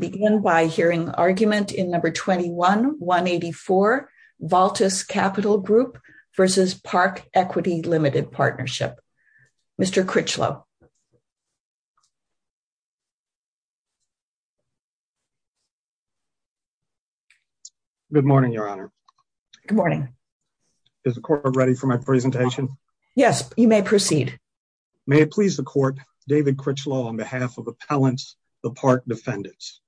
Mr. Critchlow. Good morning, Your Honor. Good morning. Is the court ready for my presentation. Yes, you may proceed. May it please the court, David Critchlow on behalf of appellants, the park defendants.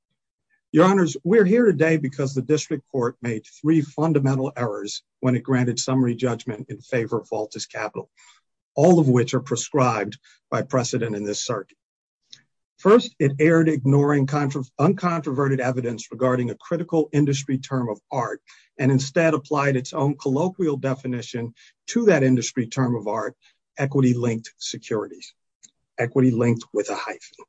Your Honors, we're here today because the district court made three fundamental errors when it granted summary judgment in favor of Valtus Capital, all of which are prescribed by precedent in this circuit. First, it erred ignoring uncontroverted evidence regarding a critical industry term of art and instead applied its own colloquial definition to that industry term of art, equity linked securities, equity linked with a hyphen.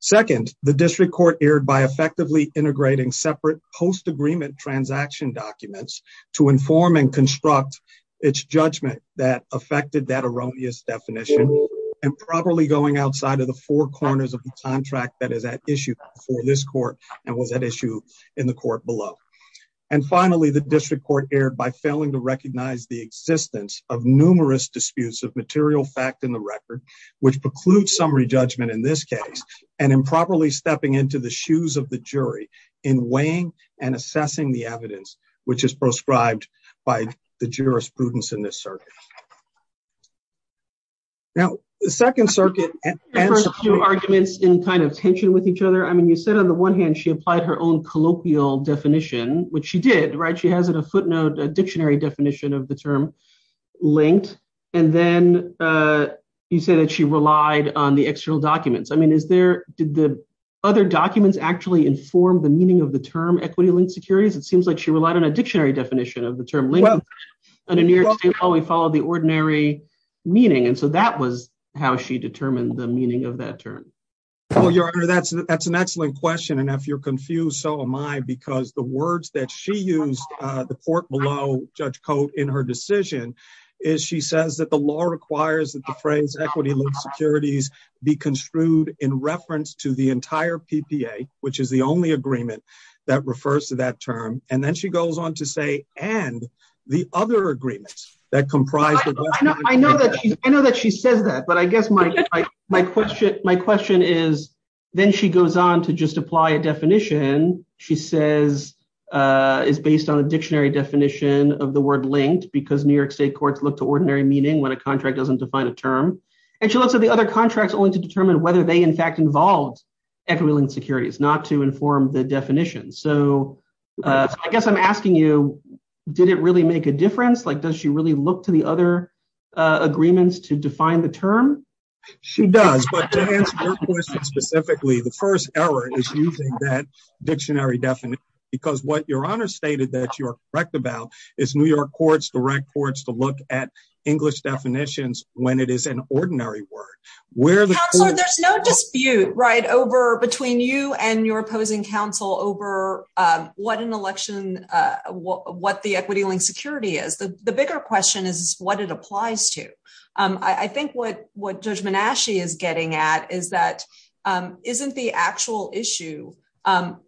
Second, the district court erred by effectively integrating separate post agreement transaction documents to inform and construct its judgment that affected that erroneous definition and probably going outside of the four corners of the contract that is at issue for this court and was at issue in the court below. And finally, the district court erred by failing to recognize the existence of numerous disputes of material fact in the record, which precludes summary judgment in this case, and improperly stepping into the shoes of the jury in weighing and assessing the evidence, which is prescribed by the jurisprudence in this circuit. Now, the second circuit. And arguments in kind of tension with each other. I mean, you said on the one hand, she applied her own colloquial definition, which she did. Right. She has a footnote, a dictionary definition of the term linked. And then you said that she relied on the external documents. I mean, is there did the other documents actually inform the meaning of the term equity linked securities? It seems like she relied on a dictionary definition of the term. Oh, we follow the ordinary meaning. And so that was how she determined the meaning of that term. Well, your honor, that's that's an excellent question. And if you're confused, so am I, because the words that she used the court below Judge Cote in her decision is she says that the law requires that the phrase equity linked securities be construed in reference to the entire PPA, which is the only agreement that refers to that term. And then she goes on to say and the other agreements that comprise. I know that I know that she says that. But I guess my my question, my question is, then she goes on to just apply a definition, she says, is based on a dictionary definition of the word linked because New York state courts look to ordinary meaning when a contract doesn't define a term. And she looks at the other contracts only to determine whether they in fact involved equity linked securities, not to inform the definition. So I guess I'm asking you, did it really make a difference? Like, does she really look to the other agreements to define the term? She does. But to answer your question specifically, the first error is using that dictionary definition, because what your honor stated that you're correct about is New York courts, the red courts to look at English definitions, when it is an ordinary word, where there's no dispute right over between you and your opposing counsel over what an election. What the equity linked security is, the bigger question is what it applies to. I think what what judgment Ashley is getting at is that isn't the actual issue,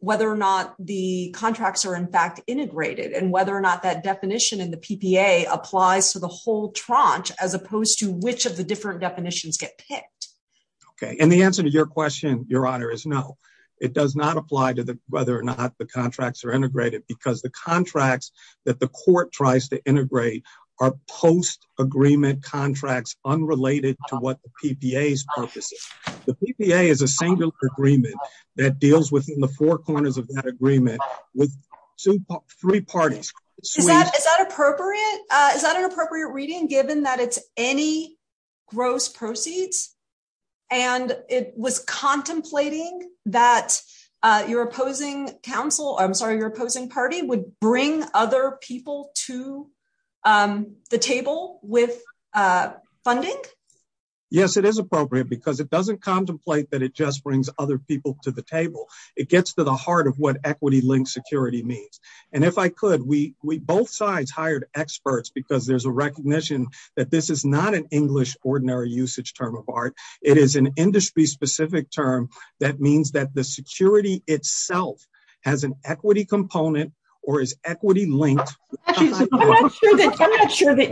whether or not the contracts are in fact integrated and whether or not that definition in the PPA applies to the whole tranche, as opposed to which of the different definitions get picked. Okay. And the answer to your question, your honor, is no, it does not apply to the whether or not the contracts are integrated, because the contracts that the court tries to integrate are post agreement contracts unrelated to what the PPA is. The PPA is a single agreement that deals within the four corners of that agreement with three parties. Is that appropriate? Is that an appropriate reading, given that it's any gross proceeds, and it was contemplating that your opposing counsel, I'm sorry, your opposing party would bring other people to the table with funding? Yes, it is appropriate because it doesn't contemplate that it just brings other people to the table. It gets to the heart of what equity linked security means. And if I could, we both sides hired experts, because there's a recognition that this is not an English ordinary usage term of art. It is an industry specific term that means that the security itself has an equity component or is equity linked. I'm not sure that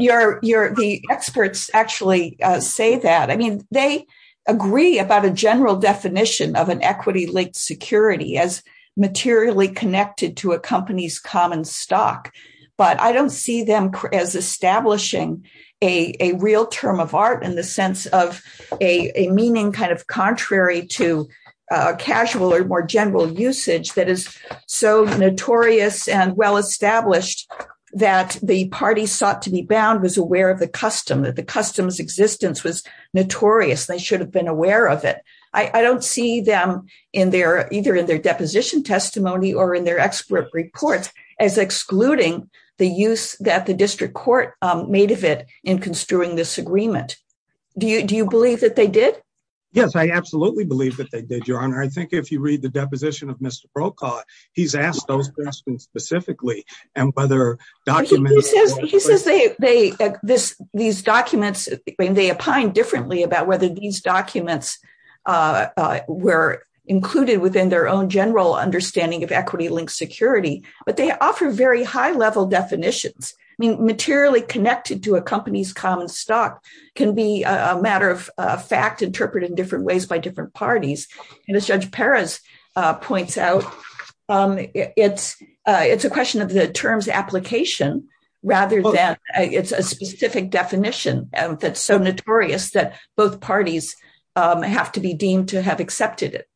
the experts actually say that. I mean, they agree about a general definition of an equity linked security as materially connected to a company's common stock. But I don't see them as establishing a real term of art in the sense of a meaning kind of contrary to casual or more general usage that is so notorious and well established that the party sought to be bound was aware of the custom, that the customs existence was notorious. They should have been aware of it. I don't see them in their either in their deposition testimony or in their expert reports as excluding the use that the district court made of it in construing this agreement. Do you believe that they did? Yes, I absolutely believe that they did, Your Honor. I think if you read the deposition of Mr. Brokaw, he's asked those questions specifically and whether documents. He says these documents, they opined differently about whether these documents were included within their own general understanding of equity linked security, but they offer very high level definitions. I mean, materially connected to a company's common stock can be a matter of fact interpreted in different ways by different parties. And as Judge Perez points out, it's a question of the terms application rather than it's a specific definition. That's so notorious that both parties have to be deemed to have accepted it.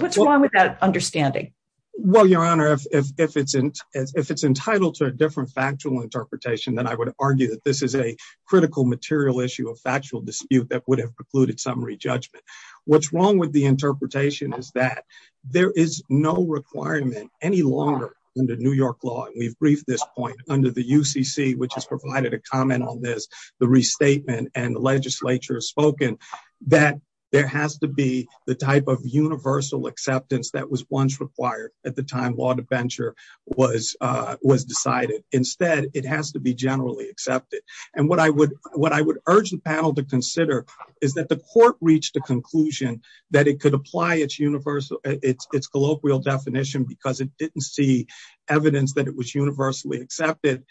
What's wrong with that understanding? Well, Your Honor, if it's if it's entitled to a different factual interpretation, then I would argue that this is a critical material issue of factual dispute that would have precluded summary judgment. What's wrong with the interpretation is that there is no requirement any longer in the New York law. And we've briefed this point under the UCC, which has provided a comment on this, the restatement and the legislature has spoken that there has to be the type of universal acceptance that was once required at the time. was was decided. Instead, it has to be generally accepted. And what I would what I would urge the panel to consider is that the court reached a conclusion that it could apply its universal its colloquial definition because it didn't see evidence that it was universally accepted.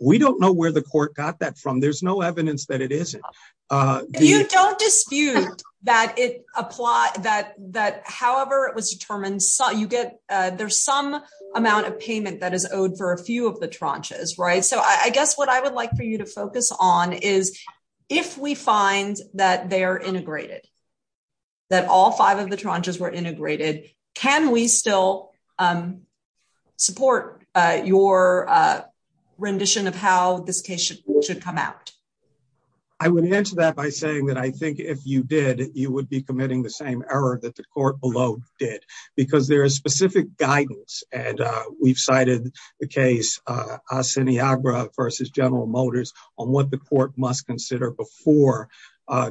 We don't know where the court got that from. There's no evidence that it is. You don't dispute that it applies that that however it was determined. So you get there's some amount of payment that is owed for a few of the tranches. Right. So I guess what I would like for you to focus on is, if we find that they are integrated, that all five of the tranches were integrated, can we still support your rendition of how this case should come out? I would answer that by saying that I think if you did, you would be committing the same error that the court below did, because there is specific guidance. And we've cited the case Asiniagra versus General Motors on what the court must consider before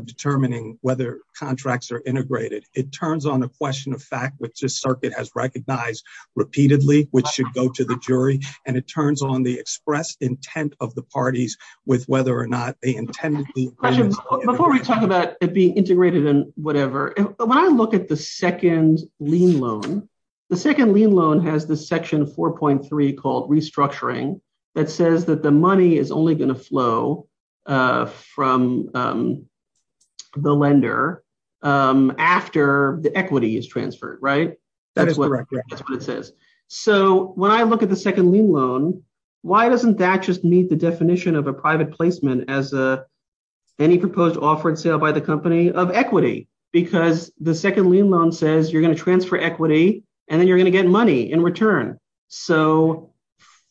determining whether contracts are integrated. It turns on a question of fact, which this circuit has recognized repeatedly, which should go to the jury. And it turns on the express intent of the parties with whether or not they intended. Before we talk about it being integrated and whatever, when I look at the second lien loan, the second lien loan has the section 4.3 called restructuring that says that the money is only going to flow from the lender after the equity is transferred. Right. That's what it says. So when I look at the second lien loan, why doesn't that just meet the definition of a private placement as any proposed offered sale by the company of equity? Because the second lien loan says you're going to transfer equity and then you're going to get money in return. So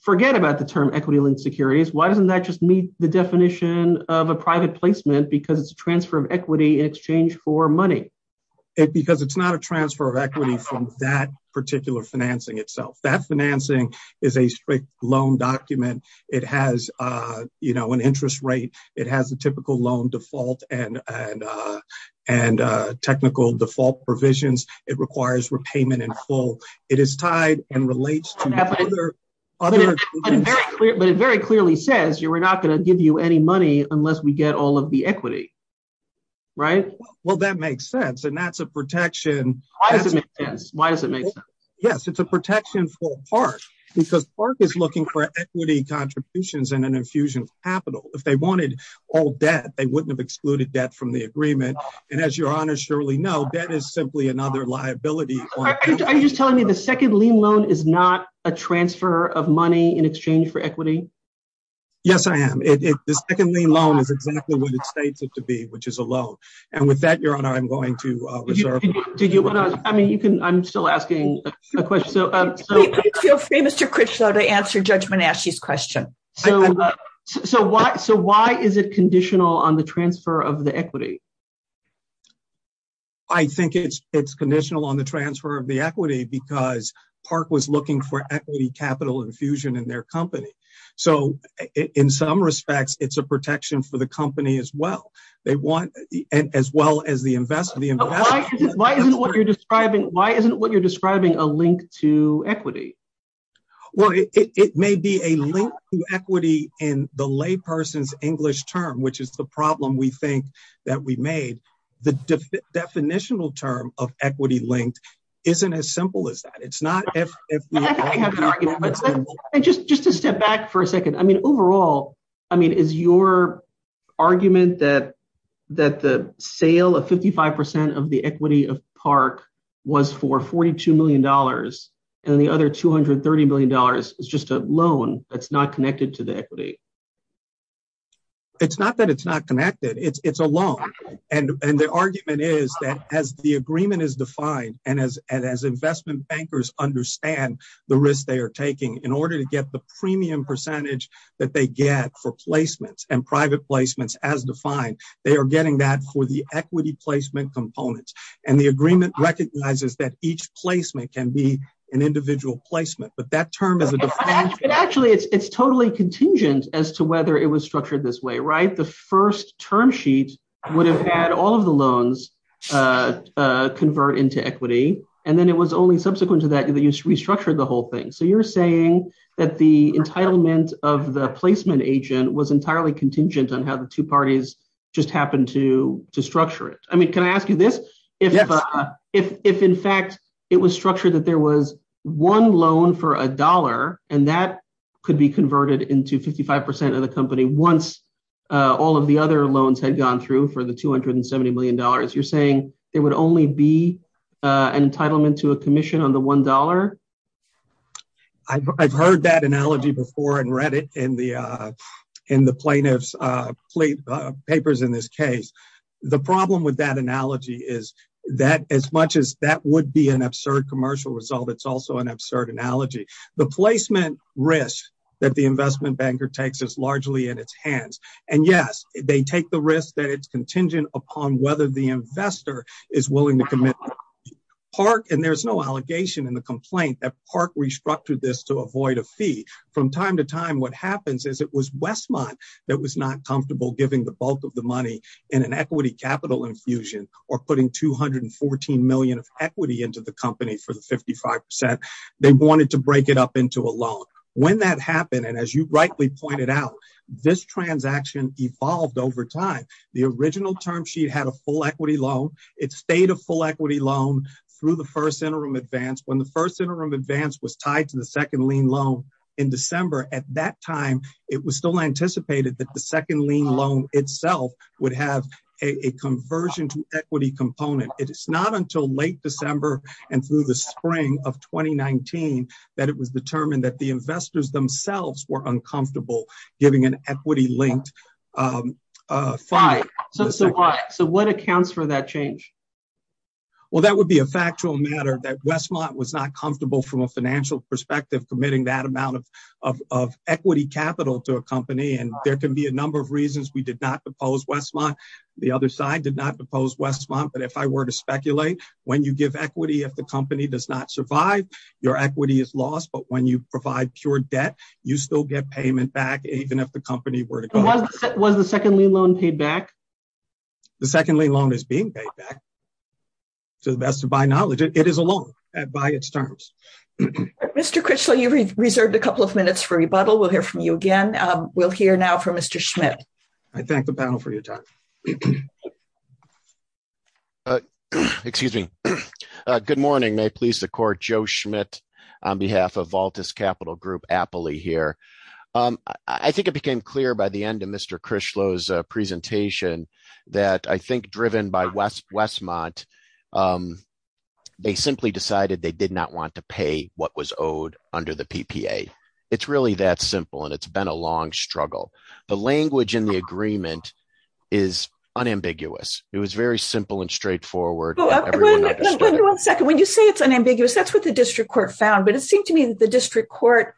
forget about the term equity linked securities. Why doesn't that just meet the definition of a private placement because it's a transfer of equity in exchange for money? Because it's not a transfer of equity from that particular financing itself. That financing is a strict loan document. It has an interest rate. It has a typical loan default and technical default provisions. It requires repayment in full. It is tied and relates to other. But it very clearly says we're not going to give you any money unless we get all of the equity. Right. Well, that makes sense. And that's a protection. Why does it make sense? Why does it make sense? Yes, it's a protection for Park because Park is looking for equity contributions and an infusion of capital. If they wanted all debt, they wouldn't have excluded debt from the agreement. And as your honor surely know, debt is simply another liability. Are you just telling me the second lien loan is not a transfer of money in exchange for equity? Yes, I am. The second lien loan is exactly what it states it to be, which is a loan. And with that, your honor, I'm going to reserve. I mean, you can, I'm still asking a question. I didn't feel free Mr. Critchlow to answer Judge Menasche's question. So why is it conditional on the transfer of the equity? I think it's conditional on the transfer of the equity because Park was looking for equity capital infusion in their company. So in some respects, it's a protection for the company as well. They want as well as the investment. Why isn't what you're describing a link to equity? Well, it may be a link to equity in the lay person's English term, which is the problem we think that we made. The definitional term of equity linked isn't as simple as that. Just to step back for a second. I mean, overall, I mean, is your argument that the sale of 55% of the equity of Park was for $42 million and the other $230 million is just a loan that's not connected to the equity? It's not that it's not connected. It's a loan. And the argument is that as the agreement is defined and as investment bankers understand the risk they are taking in order to get the premium percentage that they get for placements and private placements as defined, they are getting that for the equity placement components. And the agreement recognizes that each placement can be an individual placement. But that term is a definition. Actually, it's totally contingent as to whether it was structured this way, right? The first term sheet would have had all of the loans convert into equity. And then it was only subsequent to that, you restructured the whole thing. So you're saying that the entitlement of the placement agent was entirely contingent on how the two parties just happened to structure it. I mean, can I ask you this? If in fact, it was structured that there was one loan for a dollar, and that could be converted into 55% of the company once all of the other loans had gone through for the $270 million. You're saying there would only be an entitlement to a commission on the $1? I've heard that analogy before and read it in the plaintiff's papers in this case. The problem with that analogy is that as much as that would be an absurd commercial result, it's also an absurd analogy. The placement risk that the investment banker takes is largely in its hands. And yes, they take the risk that it's contingent upon whether the investor is willing to commit. There's no allegation in the complaint that Park restructured this to avoid a fee. From time to time, what happens is it was Westmont that was not comfortable giving the bulk of the money in an equity capital infusion or putting $214 million of equity into the company for the 55%. They wanted to break it up into a loan. When that happened, and as you rightly pointed out, this transaction evolved over time. The original term sheet had a full equity loan. It stayed a full equity loan through the first interim advance. When the first interim advance was tied to the second lien loan in December, at that time, it was still anticipated that the second lien loan itself would have a conversion to equity component. It's not until late December and through the spring of 2019 that it was determined that the investors themselves were uncomfortable giving an equity-linked fund. So what accounts for that change? Well, that would be a factual matter that Westmont was not comfortable from a financial perspective committing that amount of equity capital to a company. And there can be a number of reasons we did not propose Westmont. The other side did not propose Westmont. But if I were to speculate, when you give equity, if the company does not survive, your equity is lost. But when you provide pure debt, you still get payment back, even if the company were to go. Was the second lien loan paid back? The second lien loan is being paid back, to the best of my knowledge. It is a loan by its terms. Mr. Critchlow, you've reserved a couple of minutes for rebuttal. We'll hear from you again. We'll hear now from Mr. Schmidt. I thank the panel for your time. Excuse me. Good morning. May it please the court, Joe Schmidt, on behalf of Voltus Capital Group Appley here. I think it became clear by the end of Mr. Critchlow's presentation that I think driven by Westmont, they simply decided they did not want to pay what was owed under the PPA. It's really that simple. And it's been a long struggle. The language in the agreement is unambiguous. It was very simple and straightforward. Wait a second. When you say it's unambiguous, that's what the district court found. But it seemed to me that the district court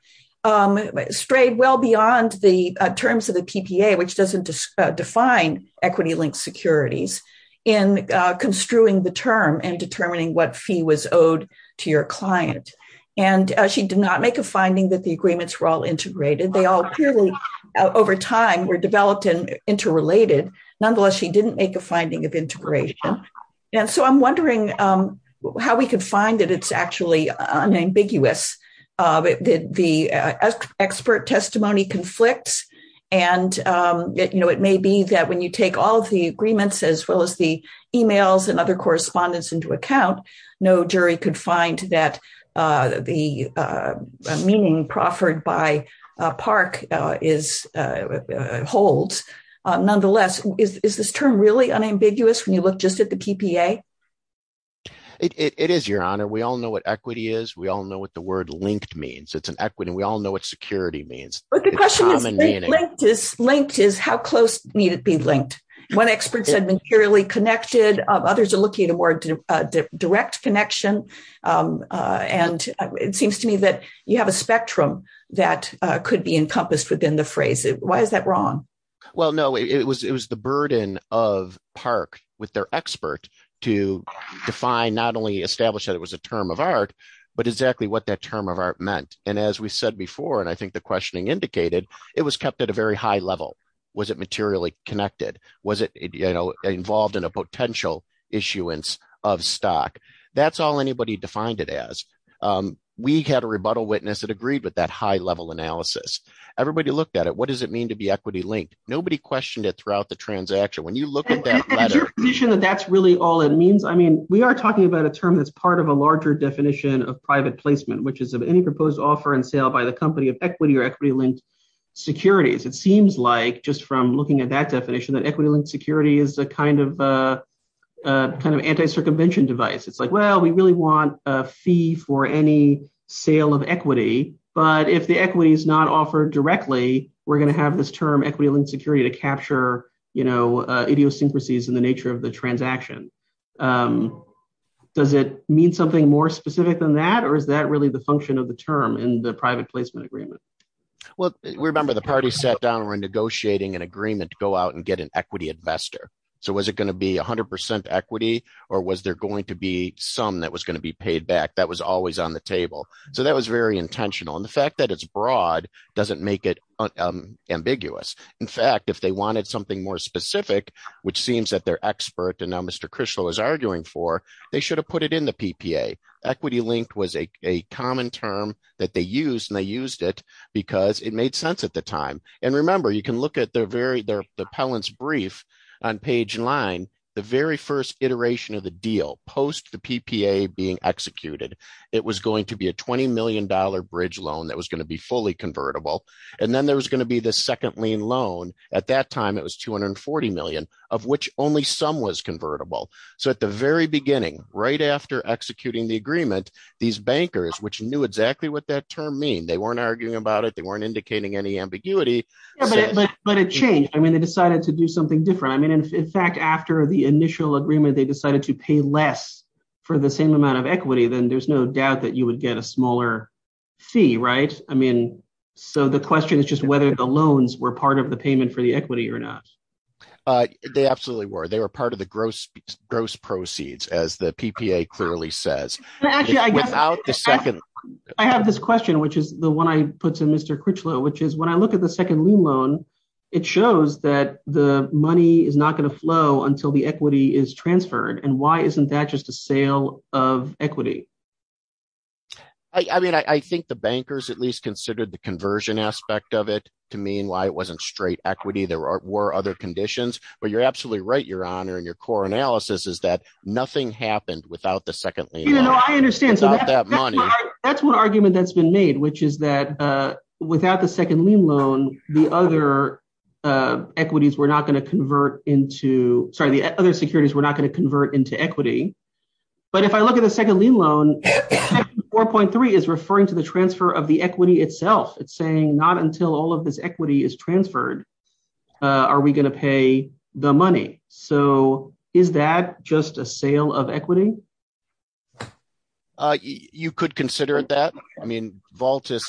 strayed well beyond the terms of the PPA, which doesn't define equity linked securities, in construing the term and determining what fee was owed to your client. And she did not make a finding that the agreements were all integrated. They all clearly over time were developed and interrelated. Nonetheless, she didn't make a finding of integration. And so I'm wondering how we could find that it's actually unambiguous. The expert testimony conflicts. And, you know, it may be that when you take all the agreements as well as the emails and other correspondence into account, no jury could find that the meaning proffered by Park holds. Nonetheless, is this term really unambiguous when you look just at the PPA? It is, Your Honor. We all know what equity is. We all know what the word linked means. It's an equity. We all know what security means. But the question is, linked is how close need it be linked? One expert said materially connected. Others are looking at a more direct connection. And it seems to me that you have a spectrum that could be encompassed within the phrase. Why is that wrong? Well, no, it was the burden of Park with their expert to define not only establish that it was a term of art, but exactly what that term of art meant. And as we said before, and I think the questioning indicated, it was kept at a very high level. Was it materially connected? Was it involved in a potential issuance of stock? That's all anybody defined it as. We had a rebuttal witness that agreed with that high level analysis. Everybody looked at it. What does it mean to be equity linked? Nobody questioned it throughout the transaction. When you look at that letter… Is your position that that's really all it means? I mean, we are talking about a term that's part of a larger definition of private placement, which is of any proposed offer and sale by the company of equity or equity linked securities. It seems like just from looking at that definition that equity linked security is a kind of anti-circumvention device. It's like, well, we really want a fee for any sale of equity. But if the equity is not offered directly, we're going to have this term equity linked security to capture idiosyncrasies in the nature of the transaction. Does it mean something more specific than that? Or is that really the function of the term in the private placement agreement? Well, remember, the party sat down and we're negotiating an agreement to go out and get an equity investor. So was it going to be 100% equity or was there going to be some that was going to be paid back? That was always on the table. So that was very intentional. And the fact that it's broad doesn't make it ambiguous. In fact, if they wanted something more specific, which seems that they're expert and now Mr. Krischel is arguing for, they should have put it in the PPA. Equity linked was a common term that they used and they used it because it made sense at the time. And remember, you can look at their very, their appellant's brief on page line, the very first iteration of the deal post the PPA being executed. It was going to be a $20 million bridge loan that was going to be fully convertible. And then there was going to be the second lien loan. At that time, it was $240 million of which only some was convertible. So at the very beginning, right after executing the agreement, these bankers, which knew exactly what that term mean, they weren't arguing about it, they weren't indicating any ambiguity. But it changed. I mean, they decided to do something different. I mean, in fact, after the initial agreement, they decided to pay less for the same amount of equity, then there's no doubt that you would get a smaller fee, right? I mean, so the question is just whether the loans were part of the payment for the equity or not. They absolutely were. They were part of the gross proceeds, as the PPA clearly says. I have this question, which is the one I put to Mr. Critchlow, which is when I look at the second lien loan, it shows that the money is not going to flow until the equity is transferred. And why isn't that just a sale of equity? I mean, I think the bankers at least considered the conversion aspect of it to mean why it wasn't straight equity. There were other conditions. But you're absolutely right, Your Honor, in your core analysis is that nothing happened without the second lien loan. That's one argument that's been made, which is that without the second lien loan, the other equities were not going to convert into equity. But if I look at the second lien loan, 4.3 is referring to the transfer of the equity itself. It's saying not until all of this equity is transferred are we going to pay the money. So is that just a sale of equity? You could consider that. I mean, Vaultus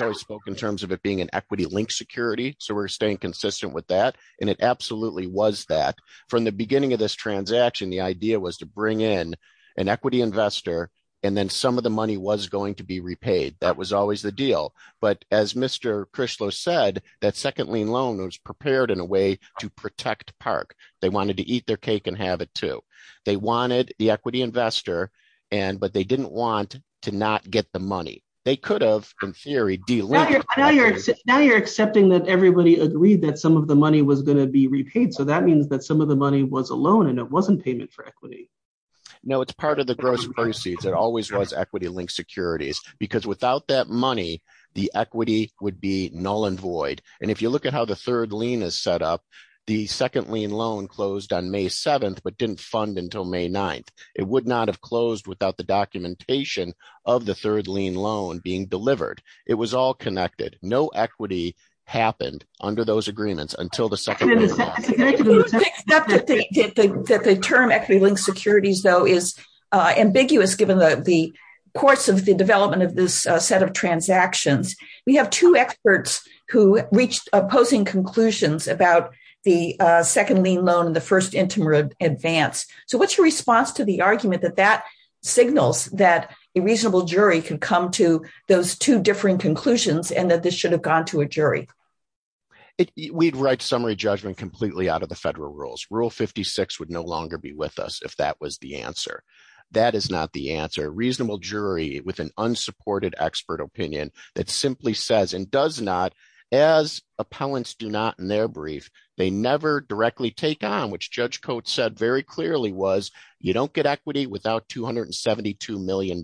always spoke in terms of it being an equity linked security. So we're staying consistent with that. And it absolutely was that. From the beginning of this transaction, the idea was to bring in an equity investor, and then some of the money was going to be repaid. That was always the deal. But as Mr. Crishlow said, that second lien loan was prepared in a way to protect Park. They wanted to eat their cake and have it too. They wanted the equity investor, but they didn't want to not get the money. They could have, in theory, de-linked. Now you're accepting that everybody agreed that some of the money was going to be repaid. So that means that some of the money was a loan and it wasn't payment for equity. No, it's part of the gross proceeds. It always was equity linked securities, because without that money, the equity would be null and void. And if you look at how the third lien is set up, the second lien loan closed on May 7th, but didn't fund until May 9th. It would not have closed without the documentation of the third lien loan being delivered. It was all connected. No equity happened under those agreements until the second lien loan. The term equity linked securities, though, is ambiguous, given the course of the development of this set of transactions. We have two experts who reached opposing conclusions about the second lien loan and the first Intimidate Advance. So what's your response to the argument that that signals that a reasonable jury can come to those two differing conclusions and that this should have gone to a jury? We'd write summary judgment completely out of the federal rules. Rule 56 would no longer be with us if that was the answer. That is not the answer. A reasonable jury with an unsupported expert opinion that simply says and does not, as appellants do not in their brief, they never directly take on, which Judge Coates said very clearly was, you don't get equity without $272 million.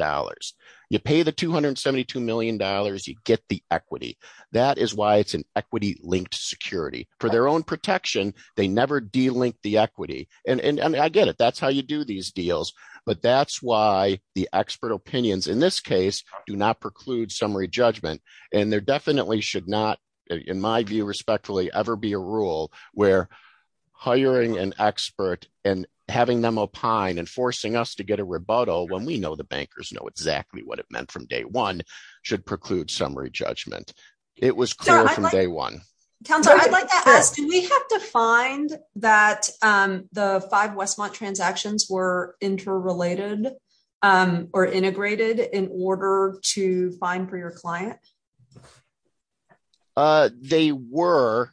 You pay the $272 million, you get the equity. That is why it's an equity linked security. For their own protection, they never delink the equity. And I get it. That's how you do these deals. But that's why the expert opinions in this case do not preclude summary judgment. And there definitely should not, in my view, respectfully, ever be a rule where hiring an expert and having them opine and forcing us to get a rebuttal when we know the bankers know. Exactly what it meant from day one should preclude summary judgment. It was clear from day one. Counselor, I'd like to ask, do we have to find that the five Westmont transactions were interrelated or integrated in order to find for your client? They were.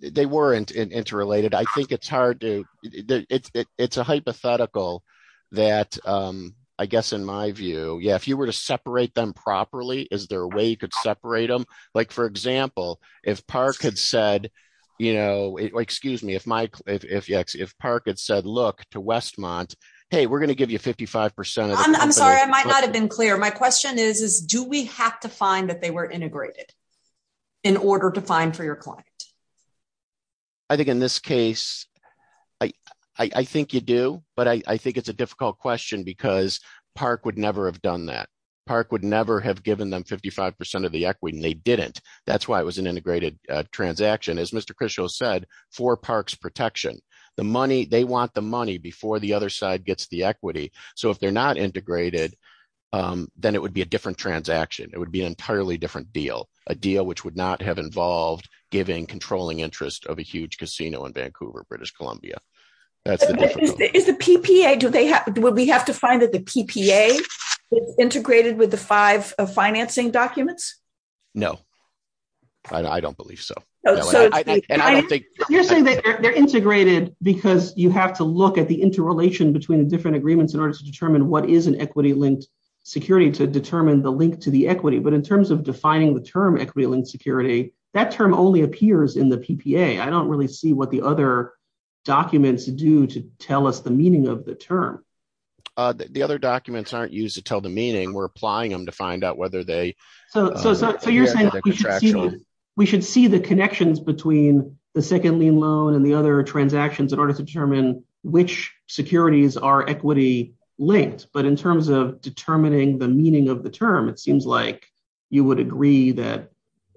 They weren't interrelated. I think it's hard to. It's a hypothetical that, I guess, in my view, yeah, if you were to separate them properly, is there a way you could separate them? Like, for example, if Park had said, look to Westmont, hey, we're going to give you 55%. I'm sorry, I might not have been clear. My question is, do we have to find that they were integrated in order to find for your client? I think in this case, I think you do. But I think it's a difficult question because Park would never have done that. Park would never have given them 55% of the equity and they didn't. That's why it was an integrated transaction. As Mr. Christian said, for Park's protection, the money, they want the money before the other side gets the equity. So if they're not integrated, then it would be a different transaction. It would be an entirely different deal, a deal which would not have involved giving controlling interest of a huge casino in Vancouver, British Columbia. Is the PPA, do we have to find that the PPA is integrated with the five financing documents? No, I don't believe so. You're saying that they're integrated because you have to look at the interrelation between the different agreements in order to determine what is an equity-linked security to determine the link to the equity. But in terms of defining the term equity-linked security, that term only appears in the PPA. I don't really see what the other documents do to tell us the meaning of the term. The other documents aren't used to tell the meaning. We're applying them to find out whether they… So you're saying we should see the connections between the second lien loan and the other transactions in order to determine which securities are equity-linked. But in terms of determining the meaning of the term, it seems like you would agree that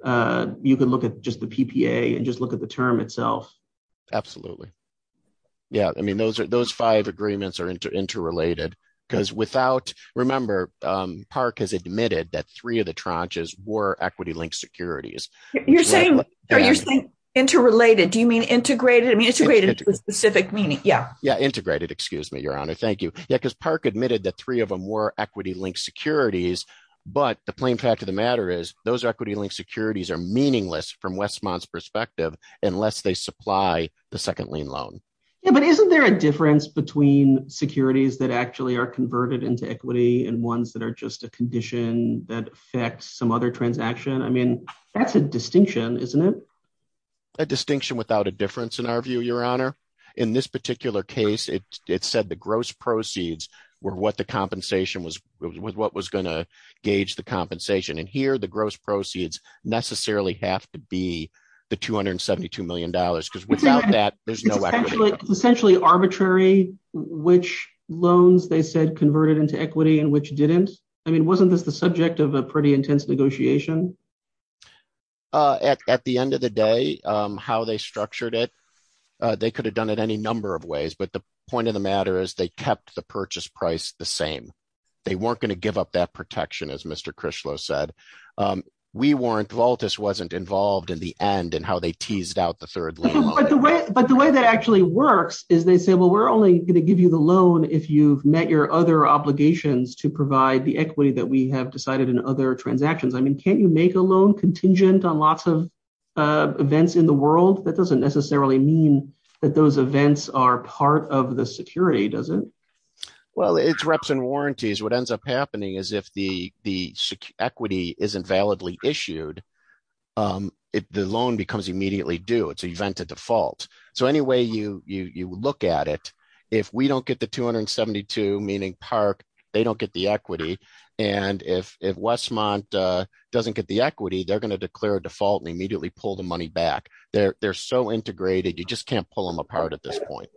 you could look at just the PPA and just look at the term itself. Absolutely. Yeah, I mean, those five agreements are interrelated because without… Remember, Park has admitted that three of the tranches were equity-linked securities. You're saying interrelated. Do you mean integrated? I mean, integrated to a specific meaning. Yeah. Yeah, integrated. Excuse me, Your Honor. Thank you. Yeah, because Park admitted that three of them were equity-linked securities. But the plain fact of the matter is those equity-linked securities are meaningless from Westmont's perspective unless they supply the second lien loan. Yeah, but isn't there a difference between securities that actually are converted into equity and ones that are just a condition that affects some other transaction? I mean, that's a distinction, isn't it? A distinction without a difference, in our view, Your Honor. In this particular case, it said the gross proceeds were what the compensation was – what was going to gauge the compensation. And here, the gross proceeds necessarily have to be the $272 million because without that, there's no equity. It's essentially arbitrary which loans they said converted into equity and which didn't. I mean, wasn't this the subject of a pretty intense negotiation? At the end of the day, how they structured it, they could have done it any number of ways. But the point of the matter is they kept the purchase price the same. They weren't going to give up that protection, as Mr. Crishlow said. We weren't – Volantis wasn't involved in the end in how they teased out the third lien loan. But the way that actually works is they say, well, we're only going to give you the loan if you've met your other obligations to provide the equity that we have decided in other transactions. I mean, can't you make a loan contingent on lots of events in the world? That doesn't necessarily mean that those events are part of the security, does it? Well, it's reps and warranties. What ends up happening is if the equity isn't validly issued, the loan becomes immediately due. It's an event of default. So any way you look at it, if we don't get the 272, meaning Park, they don't get the equity. And if Westmont doesn't get the equity, they're going to declare a default and immediately pull the money back. They're so integrated, you just can't pull them apart at this point.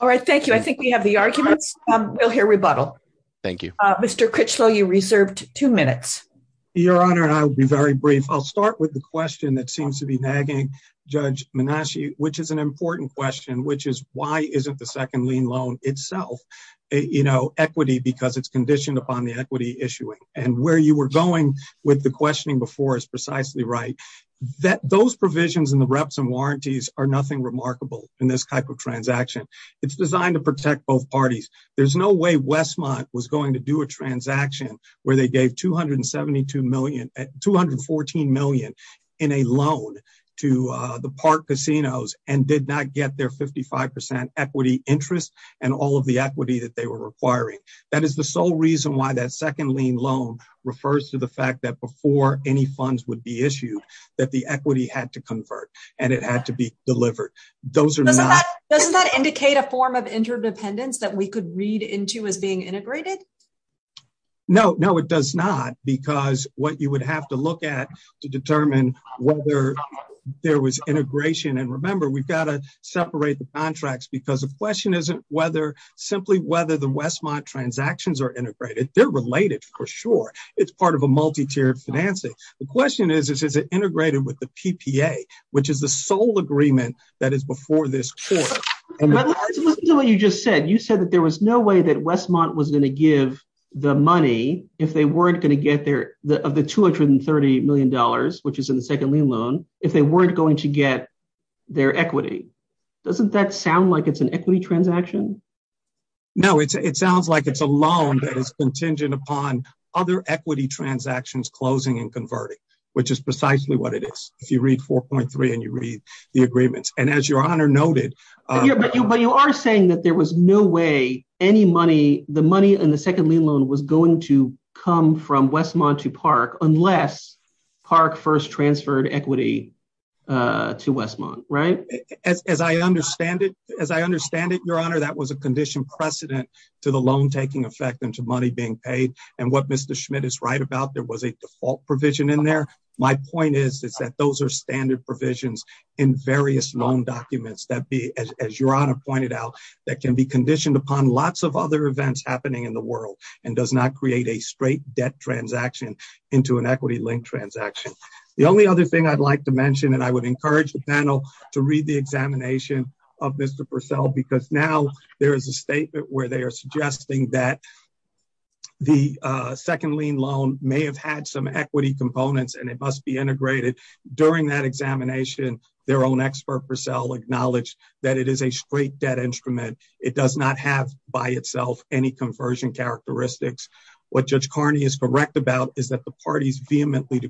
All right. Thank you. I think we have the arguments. We'll hear rebuttal. Thank you. Mr. Crishlow, you reserved two minutes. Your Honor, I'll be very brief. I'll start with the question that seems to be nagging Judge Menasche, which is an important question, which is why isn't the second lien loan itself equity because it's conditioned upon the equity issuing? And where you were going with the questioning before is precisely right. Those provisions in the reps and warranties are nothing remarkable in this type of transaction. It's designed to protect both parties. There's no way Westmont was going to do a transaction where they gave $214 million in a loan to the Park casinos and did not get their 55% equity interest and all of the equity that they were requiring. That is the sole reason why that second lien loan refers to the fact that before any funds would be issued, that the equity had to convert and it had to be delivered. Doesn't that indicate a form of interdependence that we could read into as being integrated? No, no, it does not. Because what you would have to look at to determine whether there was integration. And remember, we've got to separate the contracts because the question isn't whether simply whether the Westmont transactions are integrated. They're related for sure. It's part of a multi-tiered financing. The question is, is it integrated with the PPA, which is the sole agreement that is before this court. Let's listen to what you just said. You said that there was no way that Westmont was going to give the money if they weren't going to get their of the $230 million, which is in the second lien loan, if they weren't going to get their equity. Doesn't that sound like it's an equity transaction? No, it sounds like it's a loan that is contingent upon other equity transactions closing and converting, which is precisely what it is. If you read 4.3 and you read the agreements. And as your honor noted. But you are saying that there was no way any money, the money in the second lien loan was going to come from Westmont to Park unless Park first transferred equity to Westmont, right? As I understand it, as I understand it, your honor, that was a condition precedent to the loan taking effect and to money being paid. And what Mr. Schmidt is right about, there was a default provision in there. My point is, is that those are standard provisions in various loan documents that be, as your honor pointed out, that can be conditioned upon lots of other events happening in the world and does not create a straight debt transaction into an equity link transaction. The only other thing I'd like to mention, and I would encourage the panel to read the examination of Mr. Purcell, because now there is a statement where they are suggesting that the second lien loan may have had some equity components and it must be integrated. During that examination, their own expert Purcell acknowledged that it is a straight debt instrument. It does not have by itself any conversion characteristics. What Judge Carney is correct about is that the parties vehemently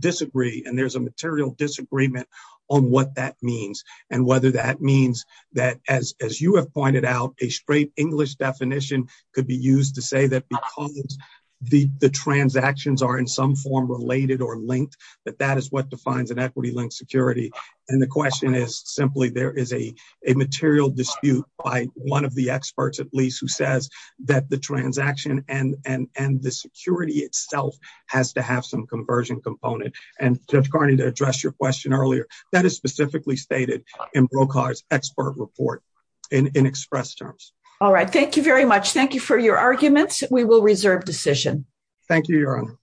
disagree, and there's a material disagreement on what that means and whether that means that, as you have pointed out, a straight English definition could be used to say that because the transactions are in some form related or linked, that that is what defines an equity link security. And the question is simply, there is a material dispute by one of the experts, at least, who says that the transaction and the security itself has to have some conversion component. And Judge Carney, to address your question earlier, that is specifically stated in Brokaw's expert report in express terms. All right. Thank you very much. Thank you for your arguments. We will reserve decision. Thank you, Your Honor.